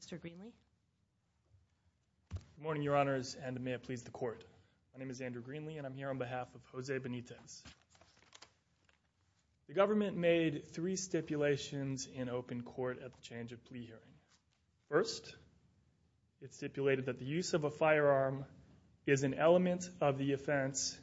Mr. Greenlee. Good morning, Your Honors, and may it please the Court. My name is Andrew Greenlee and I'm here on behalf of Jose Benitez. The government made three stipulations in open court at the change of plea hearing. First, it stipulated that the use of a firearm is an element of the offense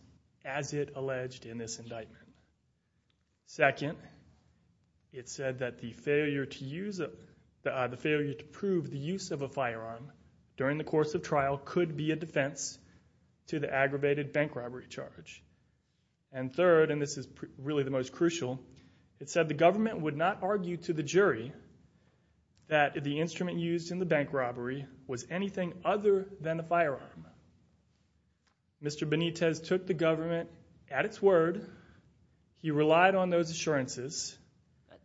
as it alleged in this failure to prove the use of a firearm during the course of trial could be a defense to the aggravated bank robbery charge. And third, and this is really the most crucial, it said the government would not argue to the jury that the instrument used in the bank robbery was anything other than a firearm. Mr. Benitez took the government at its word. He relied on those assurances.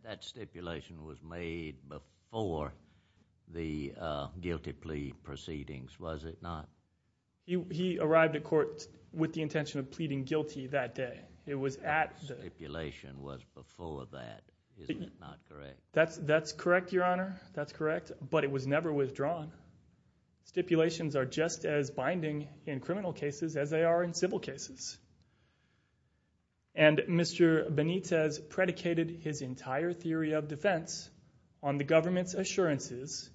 That stipulation was made before the guilty plea proceedings, was it not? He arrived at court with the intention of pleading guilty that day. It was at the... The stipulation was before that, isn't it not correct? That's correct, Your Honor, that's correct, but it was never withdrawn. Stipulations are just as binding in criminal cases as they are in civil cases. And Mr. Benitez predicated his entire theory of defense on the government's assurances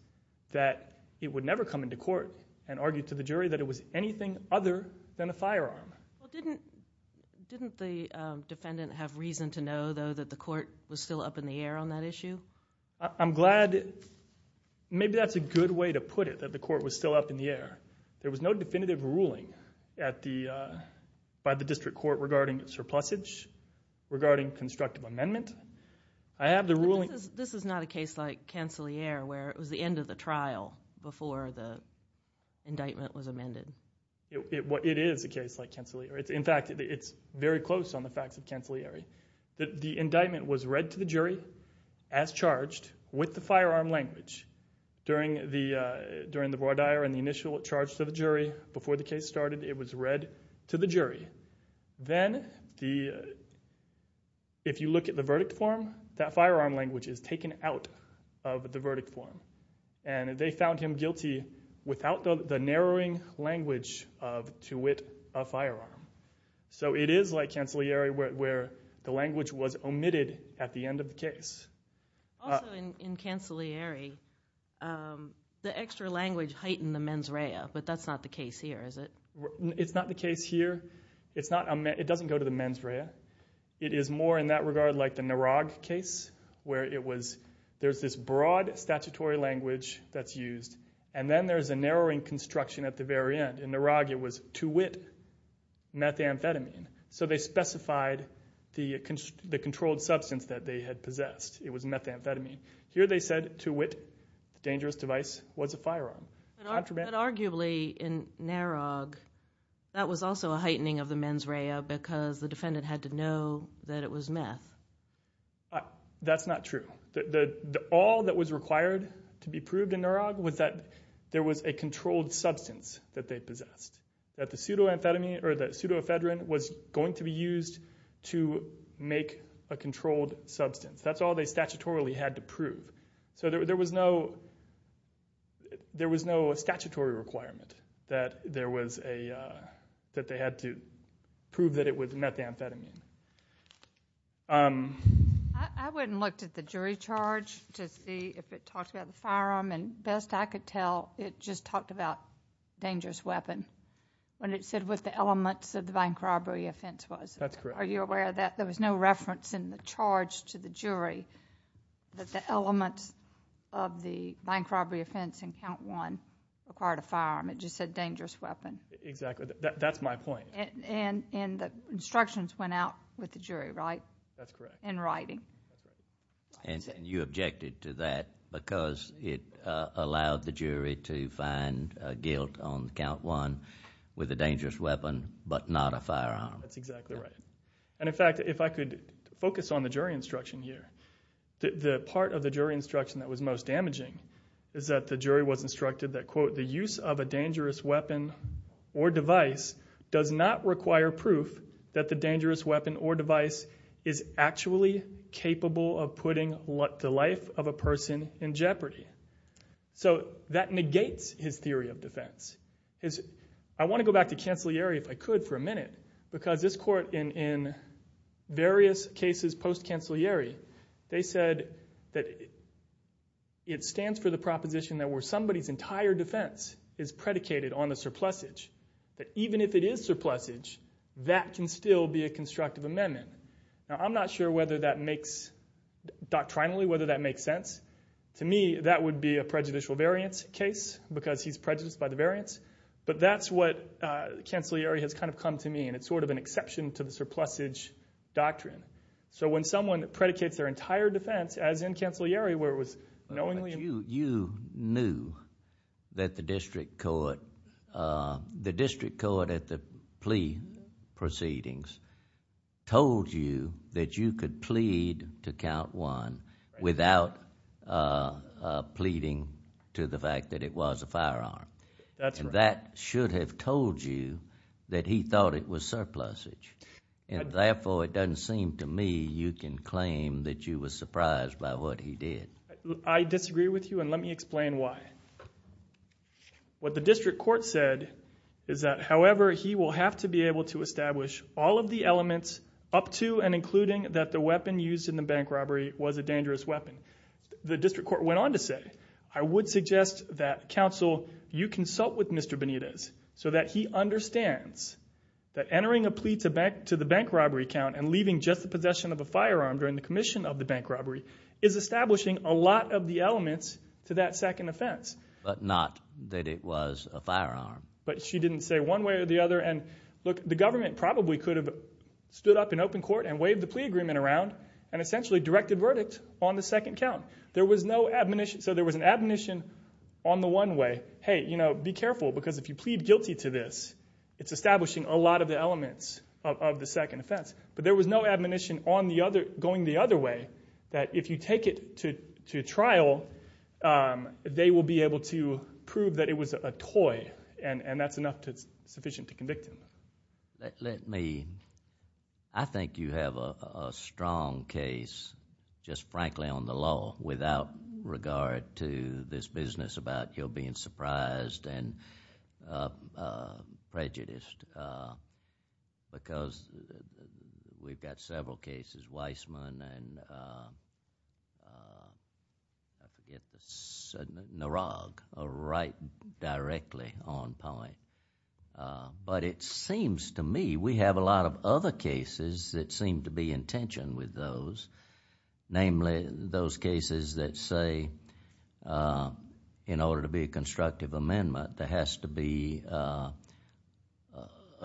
that it would never come into court and argued to the jury that it was anything other than a firearm. Didn't the defendant have reason to know, though, that the court was still up in the air on that issue? I'm glad... Maybe that's a good way to put it, that the court was still up in the air. There was no definitive ruling by the district court regarding surplusage, regarding constructive amendment. I have the ruling... This is not a case like Cancelliere where it was the end of the trial before the indictment was amended. It is a case like Cancelliere. In fact, it's very close on the facts of Cancelliere. The indictment was read to the jury as charged with the firearm language during the broad ire and the initial charge to the jury. Before the case started, it was read to the jury. Then, if you look at the verdict form, that firearm language is taken out of the verdict form. And they found him guilty without the narrowing language of, to wit, a firearm. So it is like Cancelliere where the language was omitted at the end of the case. Also in Cancelliere, the extra language heightened the mens rea, but that's not the case here, is it? It's not the case here. It's not... It doesn't go to the mens rea. It is more in that regard like the Narog case, where it was... There's this broad statutory language that's used, and then there's a narrowing construction at the very end. In Narog, it was, to wit, methamphetamine. So they specified the controlled substance that they had possessed. It was methamphetamine. Here they said, to wit, the dangerous device was a firearm. But arguably, in Narog, that was also a heightening of the mens rea because the defendant had to know that it was meth. That's not true. All that was required to be proved in Narog was that there was a controlled substance that they used to make a controlled substance. That's all they statutorily had to prove. So there was no... There was no statutory requirement that there was a... That they had to prove that it was methamphetamine. I went and looked at the jury charge to see if it talked about the firearm, and best I could tell, it just talked about dangerous weapon when it said what the elements of the bank robbery offense was. That's correct. Are you aware that there was no reference in the charge to the jury that the elements of the bank robbery offense in count one required a firearm? It just said dangerous weapon. Exactly. That's my point. And the instructions went out with the jury, right? That's correct. In writing. And you objected to that because it allowed the jury to find guilt on count one with a dangerous weapon but not a firearm. That's exactly right. And in fact, if I could focus on the jury instruction here, the part of the jury instruction that was most damaging is that the jury was instructed that, quote, the use of a dangerous weapon or device does not require proof that the dangerous weapon or device is actually capable of putting the life of a person in jeopardy. So that negates his I would like to go back to the post-cancellary, if I could, for a minute, because this court, in various cases post-cancellary, they said that it stands for the proposition that where somebody's entire defense is predicated on the surplusage, that even if it is surplusage, that can still be a constructive amendment. Now, I'm not sure whether that makes, doctrinally, whether that makes sense. To me, that would be a prejudicial variance case because he's prejudiced by the variance, but that's what post-cancellary has kind of come to me, and it's sort of an exception to the surplusage doctrine. So when someone predicates their entire defense, as in cancellary, where it was knowingly... You knew that the district court, the district court at the plea proceedings, told you that you could plead to count one without pleading to the fact that it was a firearm. That's right. And that should have told you that he thought it was surplusage. And therefore, it doesn't seem to me you can claim that you were surprised by what he did. I disagree with you, and let me explain why. What the district court said is that, however, he will have to be able to establish all of the elements up to and including that the weapon used in the bank robbery was a dangerous weapon. The district court went on to say, I would suggest that counsel, you consult with Mr. Benitez so that he understands that entering a plea to the bank robbery count and leaving just the possession of a firearm during the commission of the bank robbery is establishing a lot of the elements to that second offense. But not that it was a firearm. But she didn't say one way or the other. And look, the government probably could have stood up in open court and waved the plea agreement around and essentially directed verdict on the second count. There was no admonition. So there was an admonition on the one way, hey, you know, be careful because if you plead guilty to this, it's establishing a lot of the elements of the second offense. But there was no admonition going the other way that if you take it to trial, they will be able to prove that it was a toy, and that's enough sufficient to convict him. Let me, I think you have a strong case, just frankly on the law, without regard to this business about your being surprised and prejudiced. Because we've got several cases, Weissman and I forget, Narag, right directly on point. But it seems to me we have a lot of other cases that seem to be in tension with those, namely those cases that say in order to be a constructive amendment, there has to be a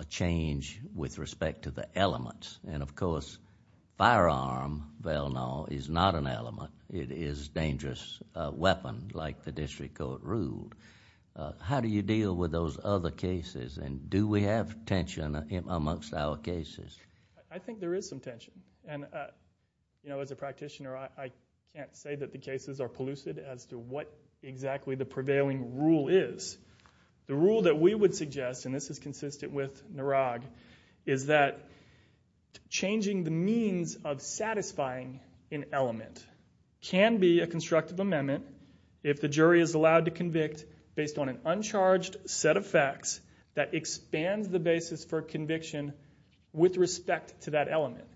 change with respect to the elements. And of course, firearm, well, no, is not an element. It is a dangerous weapon like the district court ruled. How do you deal with those other cases, and do we have tension amongst our cases? I think there is some tension. And, you know, as a practitioner, I can't say that the cases are polluted as to what exactly the prevailing rule is. The rule that we would suggest, and this is consistent with Narag, is that changing the means of satisfying an element can be a constructive amendment if the jury is allowed to convict based on an uncharged set of facts that expands the basis for conviction with respect to that element.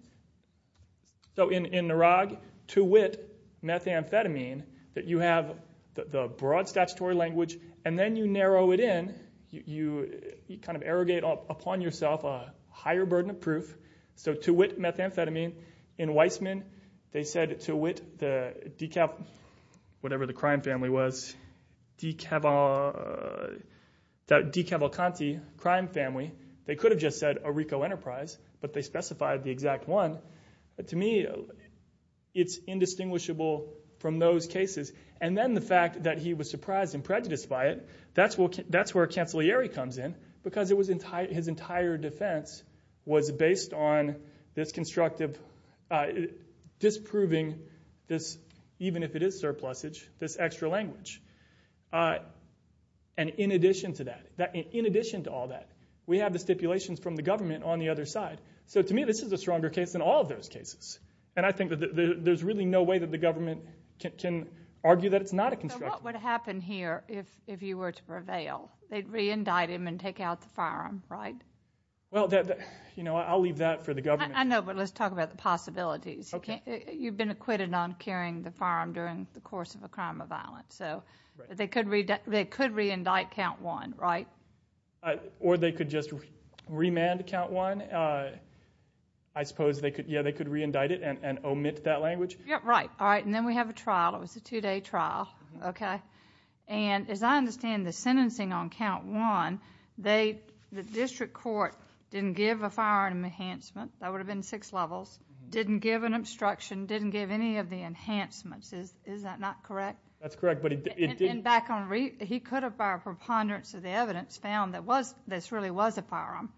So in Narag, to wit methamphetamine, that you have the broad statutory language, and then you narrow it in. You kind of irrigate upon yourself a higher burden of proof. So to wit methamphetamine. In Weissman, they said to wit the DeCaval, whatever the crime family was, DeCaval, DeCavalcanti crime family. They could have just said Areco Enterprise, but they specified the exact one. To me, it's indistinguishable from those cases. And then the fact that he was surprised and prejudiced by it, that's where Cancellieri comes in, because his entire defense was based on this constructive, disproving this, even if it is surplusage, this extra language. And in addition to that, in addition to all that, we have the stipulations from the government on the other side. So to me, this is a stronger case than all of those cases. And I think that there's really no way that the government can argue that it's not a constructive. So what would happen here if you were to prevail? They'd reindict him and take out the firearm, right? Well, you know, I'll leave that for the government. I know, but let's talk about the possibilities. You've been acquitted on carrying the firearm during the course of a crime of violence. So they could reindict Count 1, right? Or they could just remand Count 1. I suppose, yeah, they could reindict it and omit that language. Yeah, right. All right. And then we have a trial. It was a two-day trial. Okay. And as I understand the sentencing on Count 1, the district court didn't give a firearm enhancement. That would have been six levels. Didn't give an obstruction. Didn't give any of the enhancements. Is that not correct? That's correct, but it didn't. And back on re—he could have, by preponderance of the evidence, found that this really was a firearm.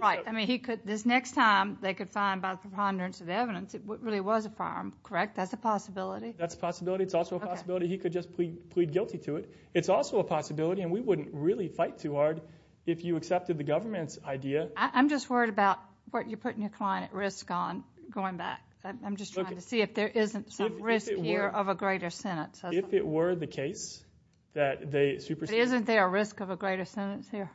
Right. I mean, he could—this next time, they could find, by preponderance of evidence, it really was a firearm, correct? That's a possibility? That's a possibility. It's also a possibility. He could just plead guilty to it. It's also a possibility, and we wouldn't really fight too hard if you accepted the government's idea. I'm just worried about what you're putting your client at risk on going back. I'm just trying to see if there isn't some risk here of a greater sentence. If it were the case that they superseded— Isn't there a risk of a greater sentence here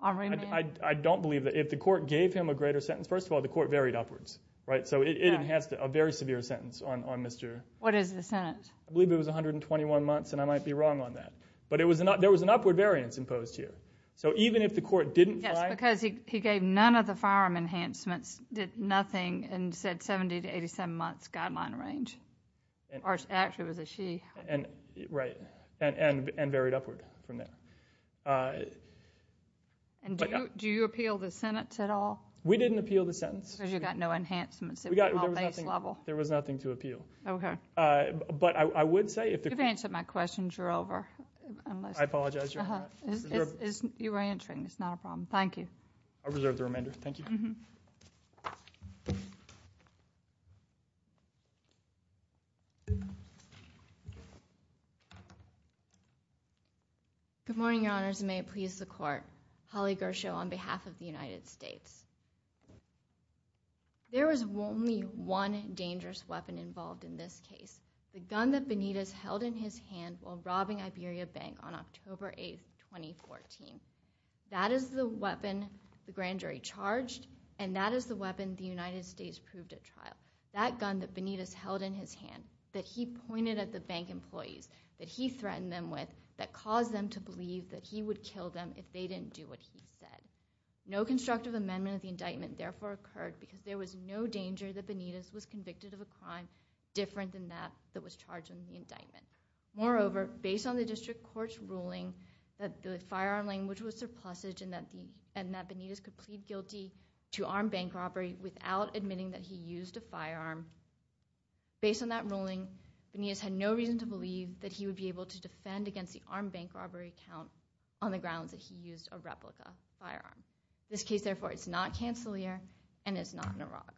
on remand? I don't believe that. If the court gave him a greater sentence—first of all, the court varied upwards, right? So it enhanced a very severe sentence on Mr.— What is the sentence? I believe it was 121 months, and I might be wrong on that. But there was an upward variance imposed here. So even if the court didn't fight— It was a 67-months guideline range. Or actually, it was a she. Right, and varied upward from there. Do you appeal the sentence at all? We didn't appeal the sentence. Because you got no enhancements at all, base level. There was nothing to appeal. Okay. But I would say— You've answered my questions. You're over. You were answering. It's not a problem. Thank you. I reserve the remainder. Thank you. Thank you. Good morning, Your Honors, and may it please the Court. Holly Gershow on behalf of the United States. There was only one dangerous weapon involved in this case. The gun that Benitez held in his hand while robbing Iberia Bank on October 8, 2014. That is the weapon the grand jury charged, and that is the weapon the United States proved at trial. That gun that Benitez held in his hand, that he pointed at the bank employees, that he threatened them with, that caused them to believe that he would kill them if they didn't do what he said. No constructive amendment of the indictment therefore occurred because there was no danger that Benitez was convicted of a crime different than that that was charged in the indictment. Moreover, based on the district court's ruling that the firearm language was surplusage and that Benitez could plead guilty to armed bank robbery without admitting that he used a firearm. Based on that ruling, Benitez had no reason to believe that he would be able to defend against the armed bank robbery count on the grounds that he used a replica firearm. In this case, therefore, it's not Cancellier and it's not Narog.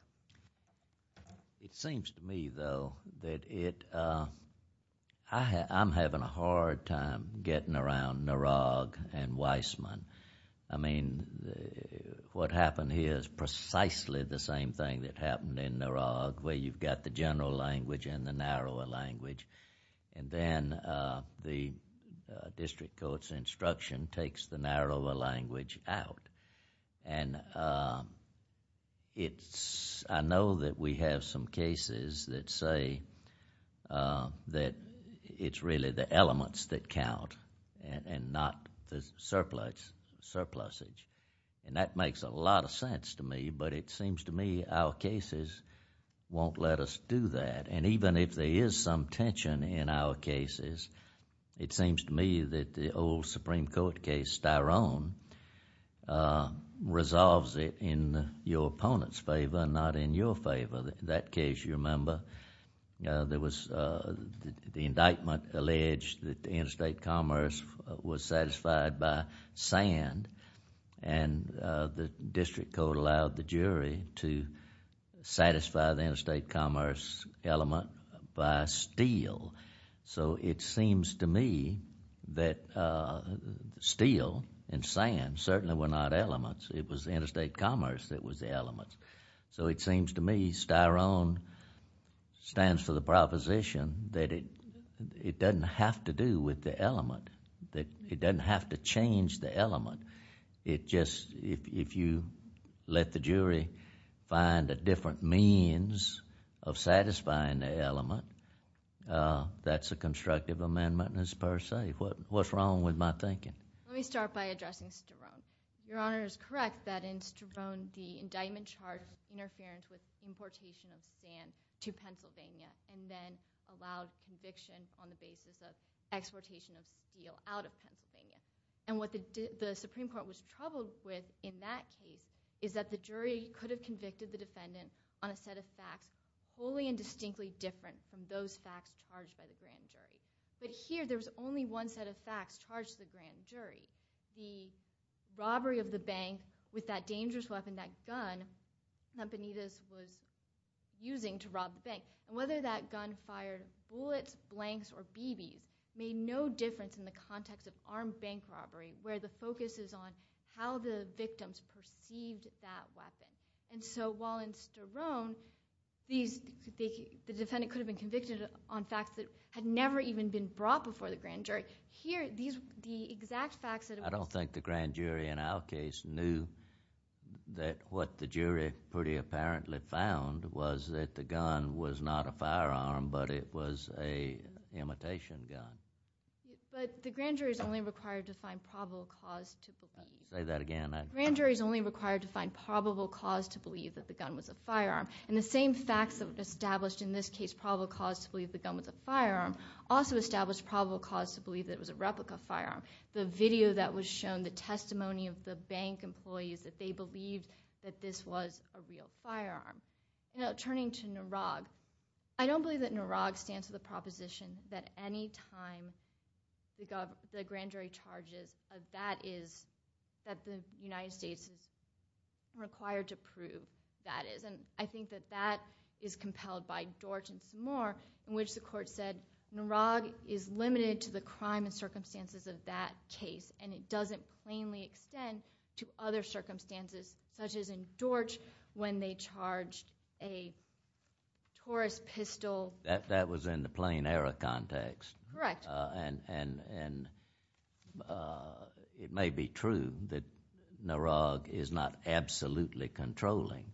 It seems to me, though, that I'm having a hard time getting around Narog and Weissman. I mean, what happened here is precisely the same thing that happened in Narog where you've got the general language and the narrower language. Then the district court's instruction takes the narrower language out. I know that we have some cases that say that it's really the elements that count and not the surplusage. That makes a lot of sense to me, but it seems to me our cases won't let us do that. Even if there is some tension in our cases, it seems to me that the old Supreme Court case, Styrone, resolves it in your opponent's favor, not in your favor. That case, you remember, the indictment alleged that interstate commerce was satisfied by sand and the district court allowed the jury to satisfy the interstate commerce element by steel. So it seems to me that steel and sand certainly were not elements. It was interstate commerce that was the element. So it seems to me Styrone stands for the proposition that it doesn't have to do with the element, that it doesn't have to change the element. It just, if you let the jury find a different means of satisfying the element, that's a constructive amendment per se. What's wrong with my thinking? Let me start by addressing Styrone. Your Honor is correct that in Styrone, the indictment charged interference with importation of sand to Pennsylvania and then allowed conviction on the basis of exportation of steel out of Pennsylvania. And what the Supreme Court was troubled with in that case is that the jury could have convicted the defendant on a set of facts wholly and distinctly different from those facts charged by the grand jury. But here there was only one set of facts charged to the grand jury. The robbery of the bank with that dangerous weapon, that gun that Benitez was using to rob the bank. And whether that gun fired bullets, blanks, or BBs made no difference in the context of armed bank robbery where the focus is on how the victims perceived that weapon. And so while in Styrone the defendant could have been convicted on facts that had never even been brought before the grand jury, here the exact facts... I don't think the grand jury in our case knew that what the jury pretty apparently found was that the gun was not a firearm, but it was an imitation gun. But the grand jury is only required to find probable cause to believe... Say that again. The grand jury is only required to find probable cause to believe that the gun was a firearm. And the same facts that established in this case probable cause to believe the gun was a firearm also established probable cause to believe that it was a replica firearm. The video that was shown, the testimony of the bank employees that they believed that this was a real firearm. Now turning to Narog, I don't believe that Narog stands to the proposition that any time the grand jury charges that the United States is required to prove that is. And I think that that is compelled by Dort and some more in which the court said Narog is limited to the crime and circumstances of that case and it doesn't plainly extend to other circumstances such as in Dort when they charged a Taurus pistol. That was in the plain error context. Correct. And it may be true that Narog is not absolutely controlling,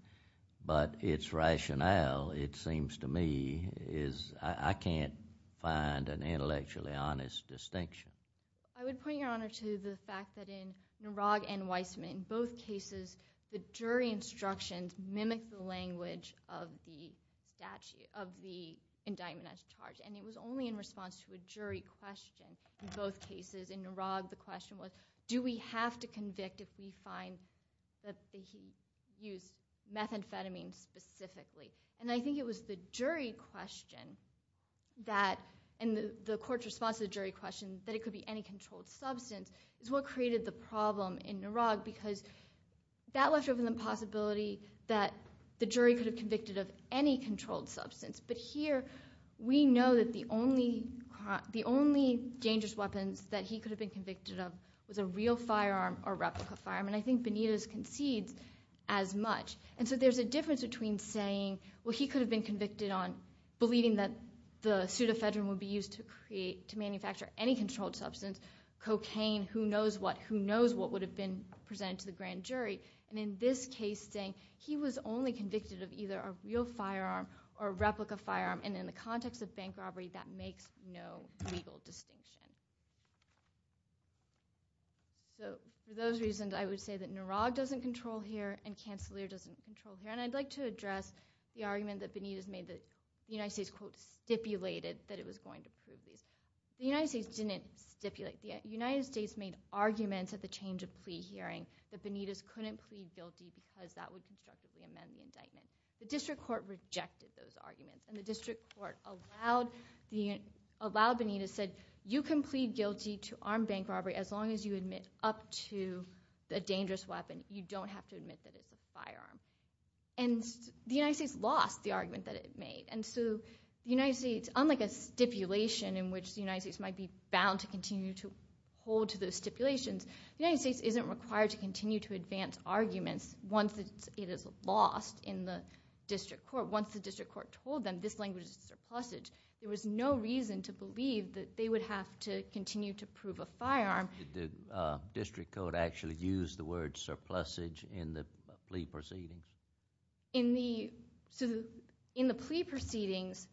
but its rationale, it seems to me, is I can't find an intellectually honest distinction. I would point your honor to the fact that in Narog and Weissman, in both cases the jury instructions mimic the language of the indictment as charged. And it was only in response to a jury question in both cases. In Narog the question was do we have to convict if we find that he used methamphetamine specifically. And I think it was the jury question and the court's response to the jury question that it could be any controlled substance is what created the problem in Narog because that left open the possibility that the jury could have convicted of any controlled substance. But here we know that the only dangerous weapons that he could have been convicted of was a real firearm or replica firearm. And I think Benitez concedes as much. And so there's a difference between saying well he could have been convicted on believing that the pseudo-phedrine would be used to manufacture any controlled substance, cocaine, who knows what, who knows what would have been presented to the grand jury. And in this case saying he was only convicted of either a real firearm or a replica firearm and in the context of bank robbery that makes no legal distinction. So for those reasons I would say that Narog doesn't control here and Canceller doesn't control here. And I'd like to address the argument that Benitez made that the United States quote stipulated that it was going to prove these. The United States didn't stipulate. The United States made arguments at the change of plea hearing that Benitez couldn't plead guilty because that would constructively amend the indictment. The district court rejected those arguments and the district court allowed Benitez said you can plead guilty to armed bank robbery as long as you admit up to a dangerous weapon you don't have to admit that it's a firearm. And the United States lost the argument that it made. And so the United States unlike a stipulation in which the United States might be bound to continue to hold to those stipulations the United States isn't required to continue to advance arguments once it is lost in the district court. Once the district court told them this language is surplusage there was no reason to believe that they would have to continue to prove a firearm. Did the district court actually use the word surplusage in the plea proceedings? In the plea proceedings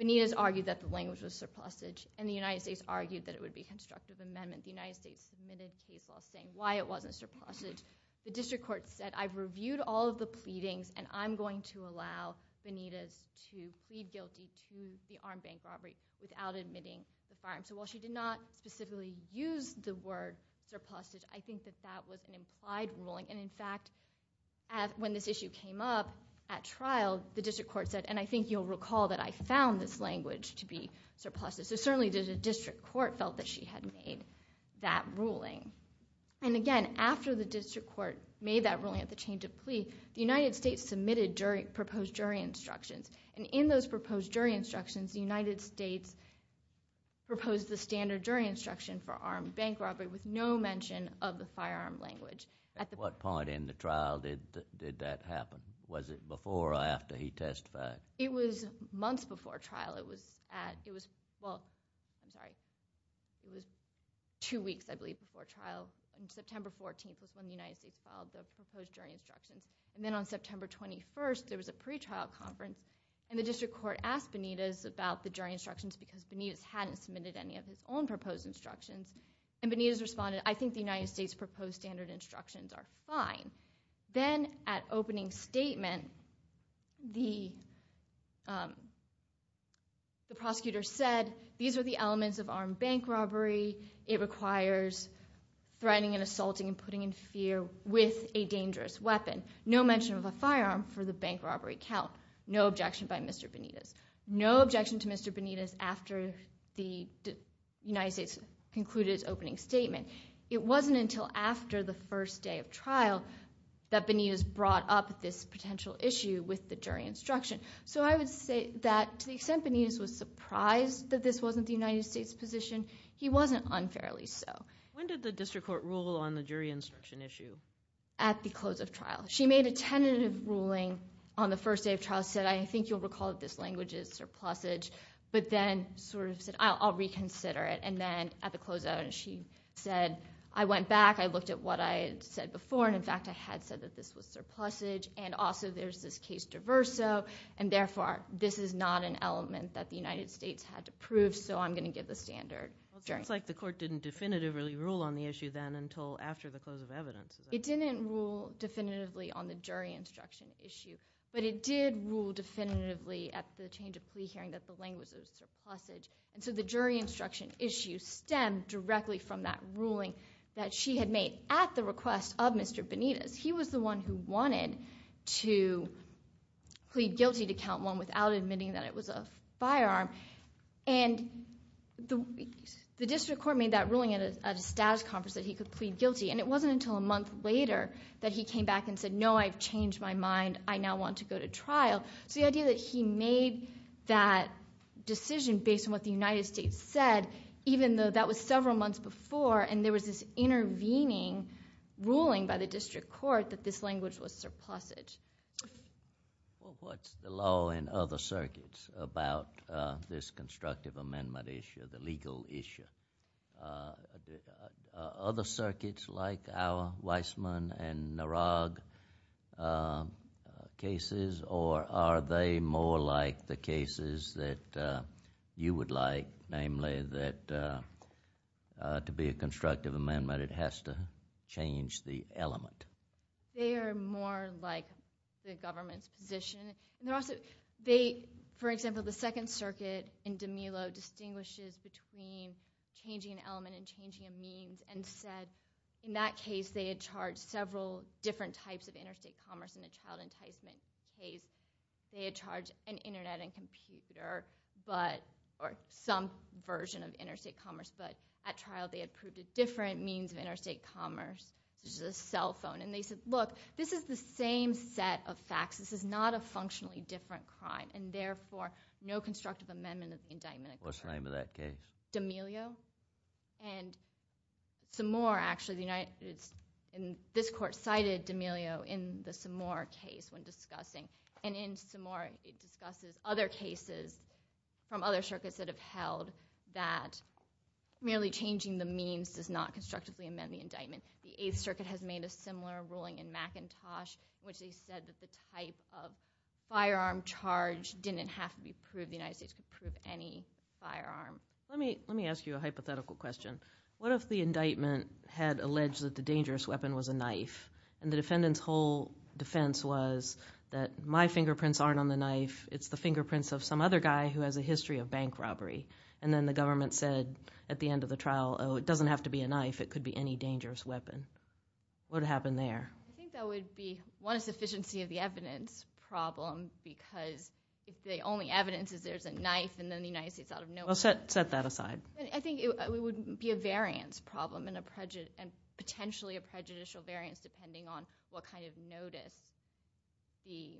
Benitez argued that the language was surplusage and the United States argued that it would be a constructive amendment. The United States submitted a case law saying why it wasn't surplusage. The district court said I've reviewed all of the pleadings and I'm going to allow Benitez to plead guilty to the armed bank robbery without admitting the firearm. So while she did not specifically use the word surplusage I think that that was an implied ruling and in fact when this issue came up at trial the district court said and I think you'll recall that I found this language to be surplusage so certainly the district court felt that she had made that ruling. And again after the district court made that ruling at the change of plea the United States submitted proposed jury instructions and in those proposed jury instructions the United States proposed the standard jury instruction for armed bank robbery with no mention of the firearm language At what point in the trial did that happen? Was it before or after he testified? It was months before trial it was at, it was, well I'm sorry it was two weeks I believe before trial and September 14th was when the United States filed the proposed jury instructions and then on September 21st there was a pre-trial conference and the district court asked Benitez about the jury instructions because Benitez hadn't submitted any of his own proposed instructions and Benitez responded I think the United States proposed standard instructions are fine then at opening statement the the prosecutor said these are the elements of armed bank robbery it requires threatening and assaulting and putting in fear with a dangerous weapon no mention of a firearm for the bank robbery count no objection by Mr. Benitez no objection to Mr. Benitez after the United States concluded its opening statement it wasn't until after the first day of trial that Benitez brought up this potential issue with the jury instruction so I would say that to the extent Benitez was surprised that this wasn't the United States position he wasn't unfairly so When did the district court rule on the jury instruction issue? At the close of trial she made a tentative ruling on the first day of trial said I think you'll recall that this language is surplusage but then sort of said I'll reconsider it and then at the close of it she said I went back I looked at what I had said before and in fact I had said that this was surplusage and also there's this case diverso and therefore this is not an element that the United States had to prove so I'm going to give the standard Sounds like the court didn't definitively rule on the issue then until after the close of evidence It didn't rule definitively on the jury instruction issue but it did rule definitively at the change of plea hearing that the language was surplusage and so the jury instruction issue stemmed directly from that ruling that she had made at the request of Mr. Benitez He was the one who wanted to plead guilty to count one without admitting that it was a firearm and the district court made that ruling at a status conference that he could plead guilty and it wasn't until a month later that he came back and said no I've changed my mind I now want to go to trial so the idea that he made that decision based on what the United States said even though that was several months before and there was this intervening ruling by the district court that this language was surplusage Well what's the law in other circuits about this constructive amendment issue the legal issue Other circuits like our Weissman and Narag cases or are they more like the cases that you would like namely that to be a constructive amendment it has to change the element They are more like the government's position and they're also they for example the second circuit in DiMillo distinguishes between changing an element and changing a means and said in that case they had charged several different types of interstate commerce in the child enticement case they had charged an internet and computer but or some version of interstate commerce but at trial they had proved a different means of interstate commerce which is a cell phone and they said look this is the same set of facts this is not a functionally different crime and therefore no constructive amendment of the indictment What's the name of that case? DiMillo and some more actually this court cited DiMillo in the Samar case when discussing and in Samar it discusses other cases from other circuits that have held that merely changing the means does not constructively amend the indictment the 8th circuit has made a similar ruling in any firearm Let me ask you a hypothetical question what if the indictment had alleged that the dangerous weapon was a knife and the defendant's whole defense was that my fingerprints aren't on the knife it's the fingerprints of some other guy who has been in the United States out of no where I think it would be a variance problem potentially a prejudicial variance depending on what kind of notice the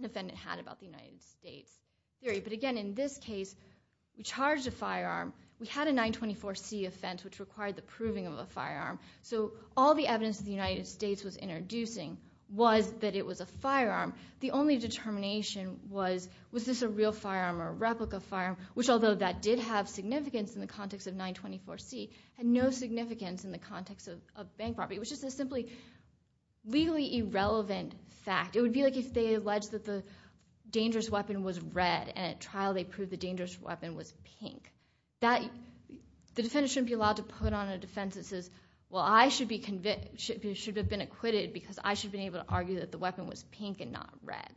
defendant had about the United States but again in this case we charged a firearm we had a 924C offense which required the proving of a firearm so all the evidence the United States was introducing was that it was a firearm the only determination was was this a real firearm or a replica firearm which although that did have significance in the context of 924C had no significance in the context of bank property it was just a simply legally irrelevant fact it would be like if they alleged that the dangerous weapon was red and at trial they proved the dangerous weapon was pink that the defender shouldn't be allowed to put on a defense that says well I should have been acquitted because I should have been able to argue that the weapon was pink and not red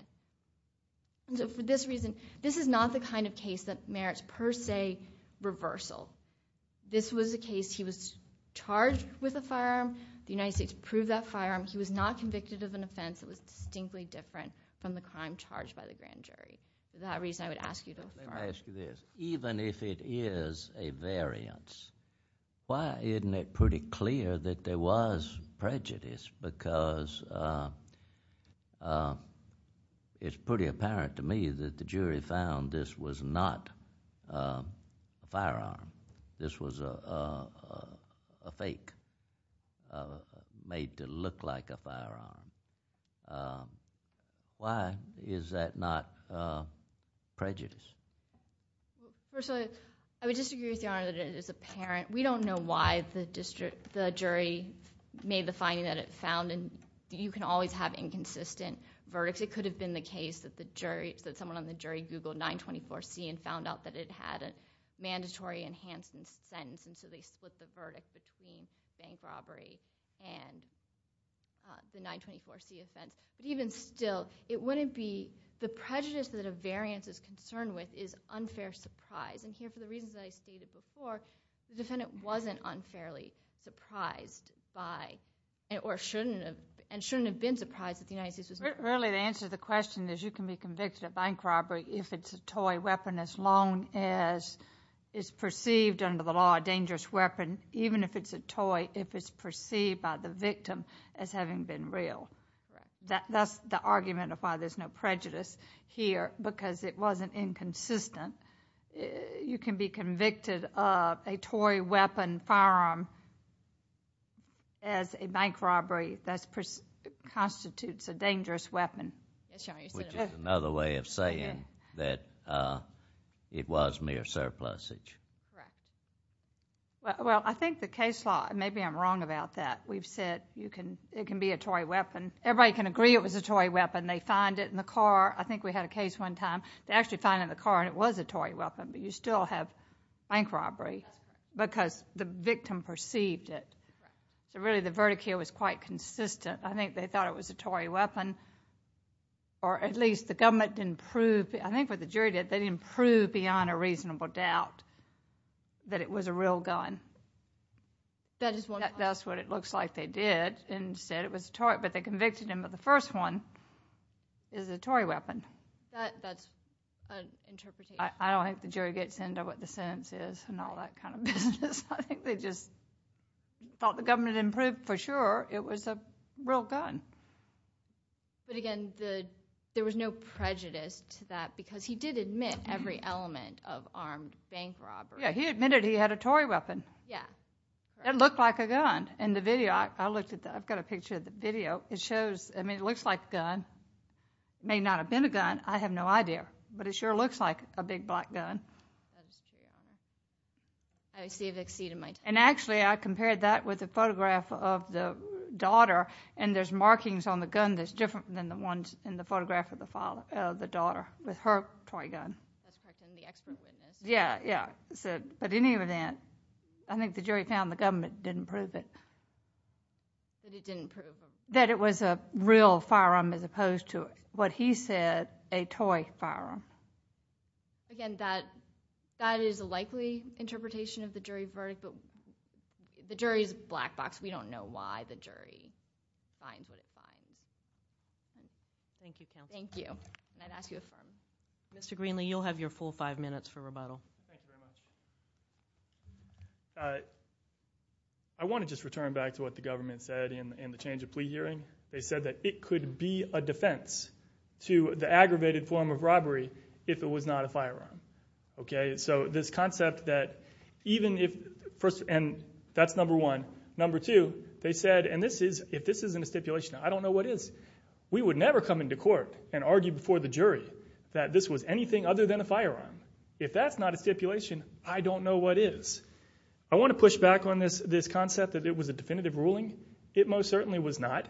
so for this reason this is not the kind of case that merits per se reversal this was a case he was is a variance why isn't it pretty clear that there was prejudice because it's pretty apparent to me that the jury found this was not a firearm this was a fake made to look like a firearm why is that not prejudice personally I would disagree with your honor that it is apparent we don't know why the jury made the finding that it found and you can always have inconsistent verdicts it could have been the case that someone on the jury googled 924C and found out that it had a mandatory enhanced sentence so they split the verdict the jury found that it was unfair surprise and here for the reasons I stated before the defendant wasn't unfairly surprised by or shouldn't have and shouldn't have been surprised really the answer to the question is you can be convicted of bank robbery if it's a toy weapon as long as it's perceived under the law dangerous weapon even if it's a toy if it's perceived by the victim as having been real that's the argument of why there's no prejudice here because it wasn't inconsistent you can be convicted of a toy weapon firearm as a bank robbery that constitutes a dangerous weapon which is another way of saying that it was mere surplusage well I think the case law maybe I'm wrong about that we've said it can be a toy weapon everybody can agree it was a toy weapon they find it in the car I think we had a case one time they actually found it in the car and it was a toy weapon but you still have bank robbery because the victim perceived it so really the verdict here was quite consistent I think they thought it was a toy weapon or at least the government didn't prove I think what the jury did they didn't prove beyond a reasonable doubt that it was a real gun that's what it looks like they did but they convicted him but the first one is a toy weapon I don't think the jury gets into what the sentence is and all that kind of business I think they just thought the government didn't prove for sure it was a real gun but again the there was no prejudice to that because he did admit every element of armed bank robbery yeah he admitted he had a toy weapon yeah it looked like in the video I looked at I've got a picture of the video it shows I mean it looks like a gun may not have been a gun I have no idea but it sure looks like a big black gun and actually I compared that with a photograph of the daughter and there's markings on the gun that's different than the ones in the photograph of the daughter with her toy gun yeah yeah but any of that I think the jury found the government didn't prove it that it didn't prove that it was a real firearm as opposed to what he said a toy firearm again that that is a likely interpretation of the jury verdict but the jury is a black box we don't know why the jury finds what it finds thank you thank you I'd ask you to affirm Mr. Greenlee you'll have your full five minutes for rebuttal thank you very much I want to just return back to what the government said in the change of plea hearing they said that it could be a defense to the aggravated form of robbery if it was not a firearm okay so this concept that even if first and that's number one number two they said and this is if this isn't a stipulation I don't know what is we would never come into court and argue before the jury that this was anything other than a firearm if that's not a stipulation I don't know what is I want to push back on this this concept that it was a definitive ruling it most certainly was not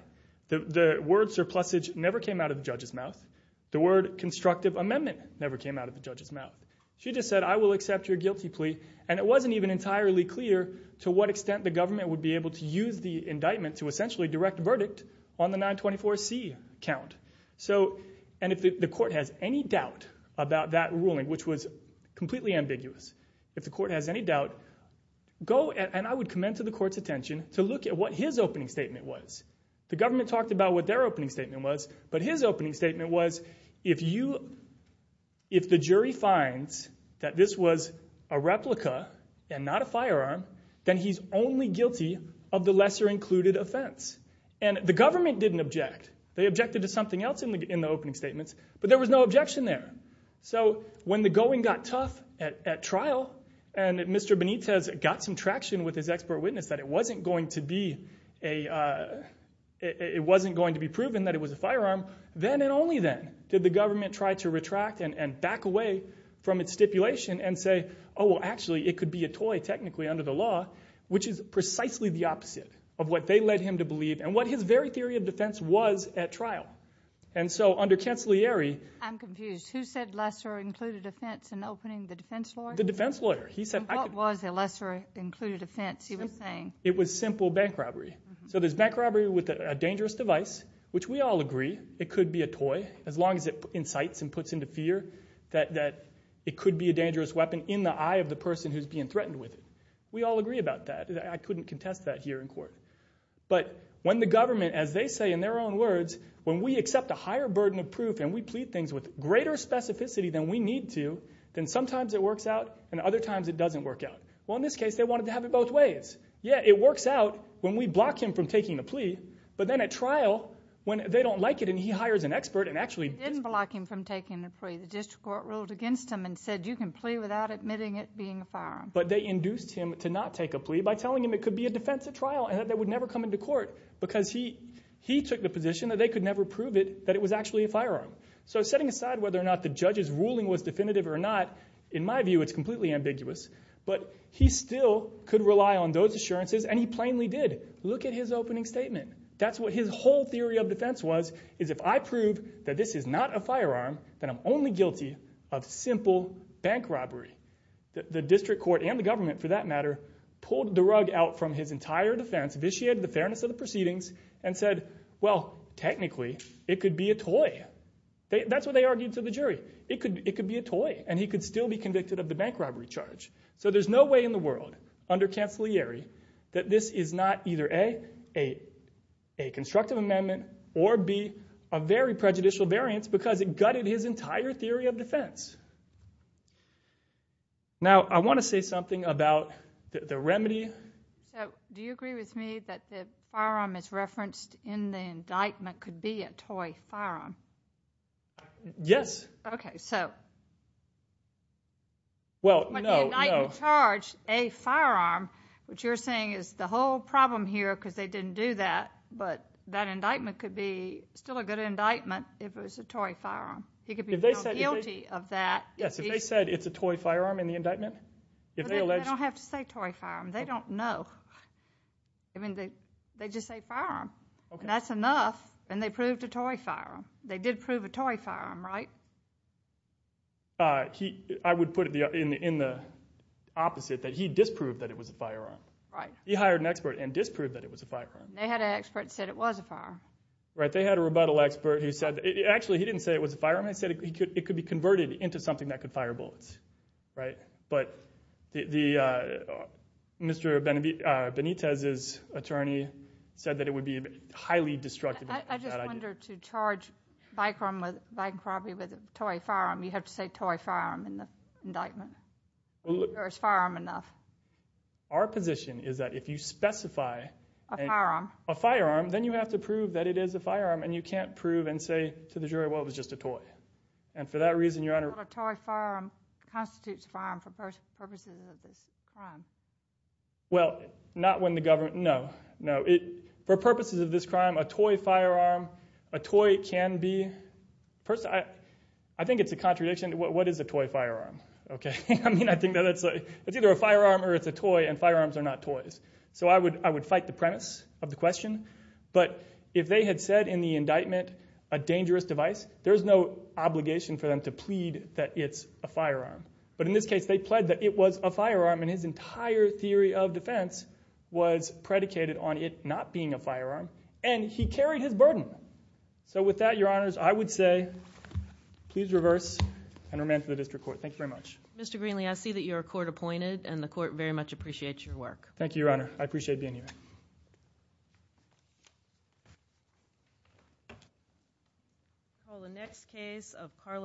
the word surplusage never came out of the judge's mouth the word constructive amendment never came out of the judge's mouth she just said I will accept your guilty plea and it wasn't even entirely clear to what extent the government would be able to use the indictment to essentially direct a verdict on the 924C count so and if the court has any doubt about that ruling which was completely ambiguous if the court has any doubt go and I would come into the court's attention to look at what his opening statement was the government talked about what their opening statement was but his opening statement was if you if the jury finds that this was a replica and not a firearm then he's only guilty of the lesser included offense and the government didn't object they objected to something else in the opening statements but there was no objection there so when the going got tough at trial and Mr. Benitez got some traction with his expert witness that it wasn't going to be a it wasn't going to be a toy technically under the law which is precisely the opposite of what they led him to believe and what his very theory of defense was at trial and so under Cancillieri I'm confused who said lesser included offense in opening the defense lawyer the defense lawyer he said what was a lesser included offense he was saying it was simple bank robbery so there's bank robbery with a dangerous device which we all agree it could be a toy as long as it incites and puts into fear that it could be a dangerous weapon in the eye of the person who's being threatened with it we all agree about that I couldn't contest that here in court but when the government as they say in their own words when we accept a higher burden of proof and we plead things with greater specificity than we need to then sometimes it works out and other times it doesn't work out well in this case they wanted to have it both ways yeah it works out when we block him from taking the plea but then at trial when they don't like it and he hires an expert and actually didn't block him from taking the plea the district court ruled against him and said you can plea without admitting it being a firearm but they induced him to not take a plea by telling him it could never come into court because he took the position they could never prove it was actually a firearm so setting aside whether or not the judge's ruling was definitive or not in my view it's completely ambiguous but he still could rely on those assurances and he plainly did look at his opening statement that's what his whole theory of defense was is if I prove that this is not a firearm then I'm only guilty of simple bank robbery the district court and the government for that matter pulled the rug out from his entire defense vitiated the fairness of the proceedings and said well technically it could be a toy that's what they argued to the jury it could be a toy and he could still be convicted of the bank robbery charge so there's no way in the world under cancillary that this is not either A a constructive amendment or B a very prejudicial variance because it gutted his entire theory of defense now I want to say something about the remedy so do you agree with me that the firearm is referenced in the indictment could be a toy firearm yes okay so well no when the indictment charged a firearm which you're saying is the whole problem here because they didn't do that but that indictment could be still a good indictment if it was a toy firearm he could be guilty of that yes if they said it's a toy firearm in the indictment they don't have to say toy firearm they don't know I mean they just say firearm that's enough and they proved a toy firearm they did prove a toy firearm right I would put it in the opposite that he disproved that it was a firearm he hired an expert and disproved that it was a firearm they had an expert that said it was a firearm right they had a rebuttal expert who said actually he didn't say it was a firearm he said it could be converted into something that could fire fire bullets right but the Mr. Benitez's attorney said that it would be highly destructive I just wonder to charge Vikram with toy firearm you have to say toy firearm in the indictment or is firearm enough our position is that if you specify a firearm then you have to prove that it is a firearm and you can't prove and say to the jury well it was just a toy and for that reason your honor a toy firearm constitutes a firearm for purposes of this crime well not when the government no no for purposes of this crime a toy firearm a toy can be person I think it's a contradiction what is a toy firearm okay I mean I think that it's a it's either a firearm or it's a toy and firearms are not toys so I would I would fight the premise of the question but if they had said in the indictment a dangerous device there's no obligation for them to plead that it's a firearm but in this case they plead that it was a firearm and his entire theory of defense was predicated on it not being a firearm and he carried his burden so with that your honors I would say please reverse and remand to the district court thank you very much Mr. Greenlee Mr. Greenlee I see that you're court appointed and the court very much appreciates your work thank you your honor is a case of Carla Greenlee and she's a defendant and she is a defendant and she is a defendant and so she is a defendant and you and she are defendants of same case and however we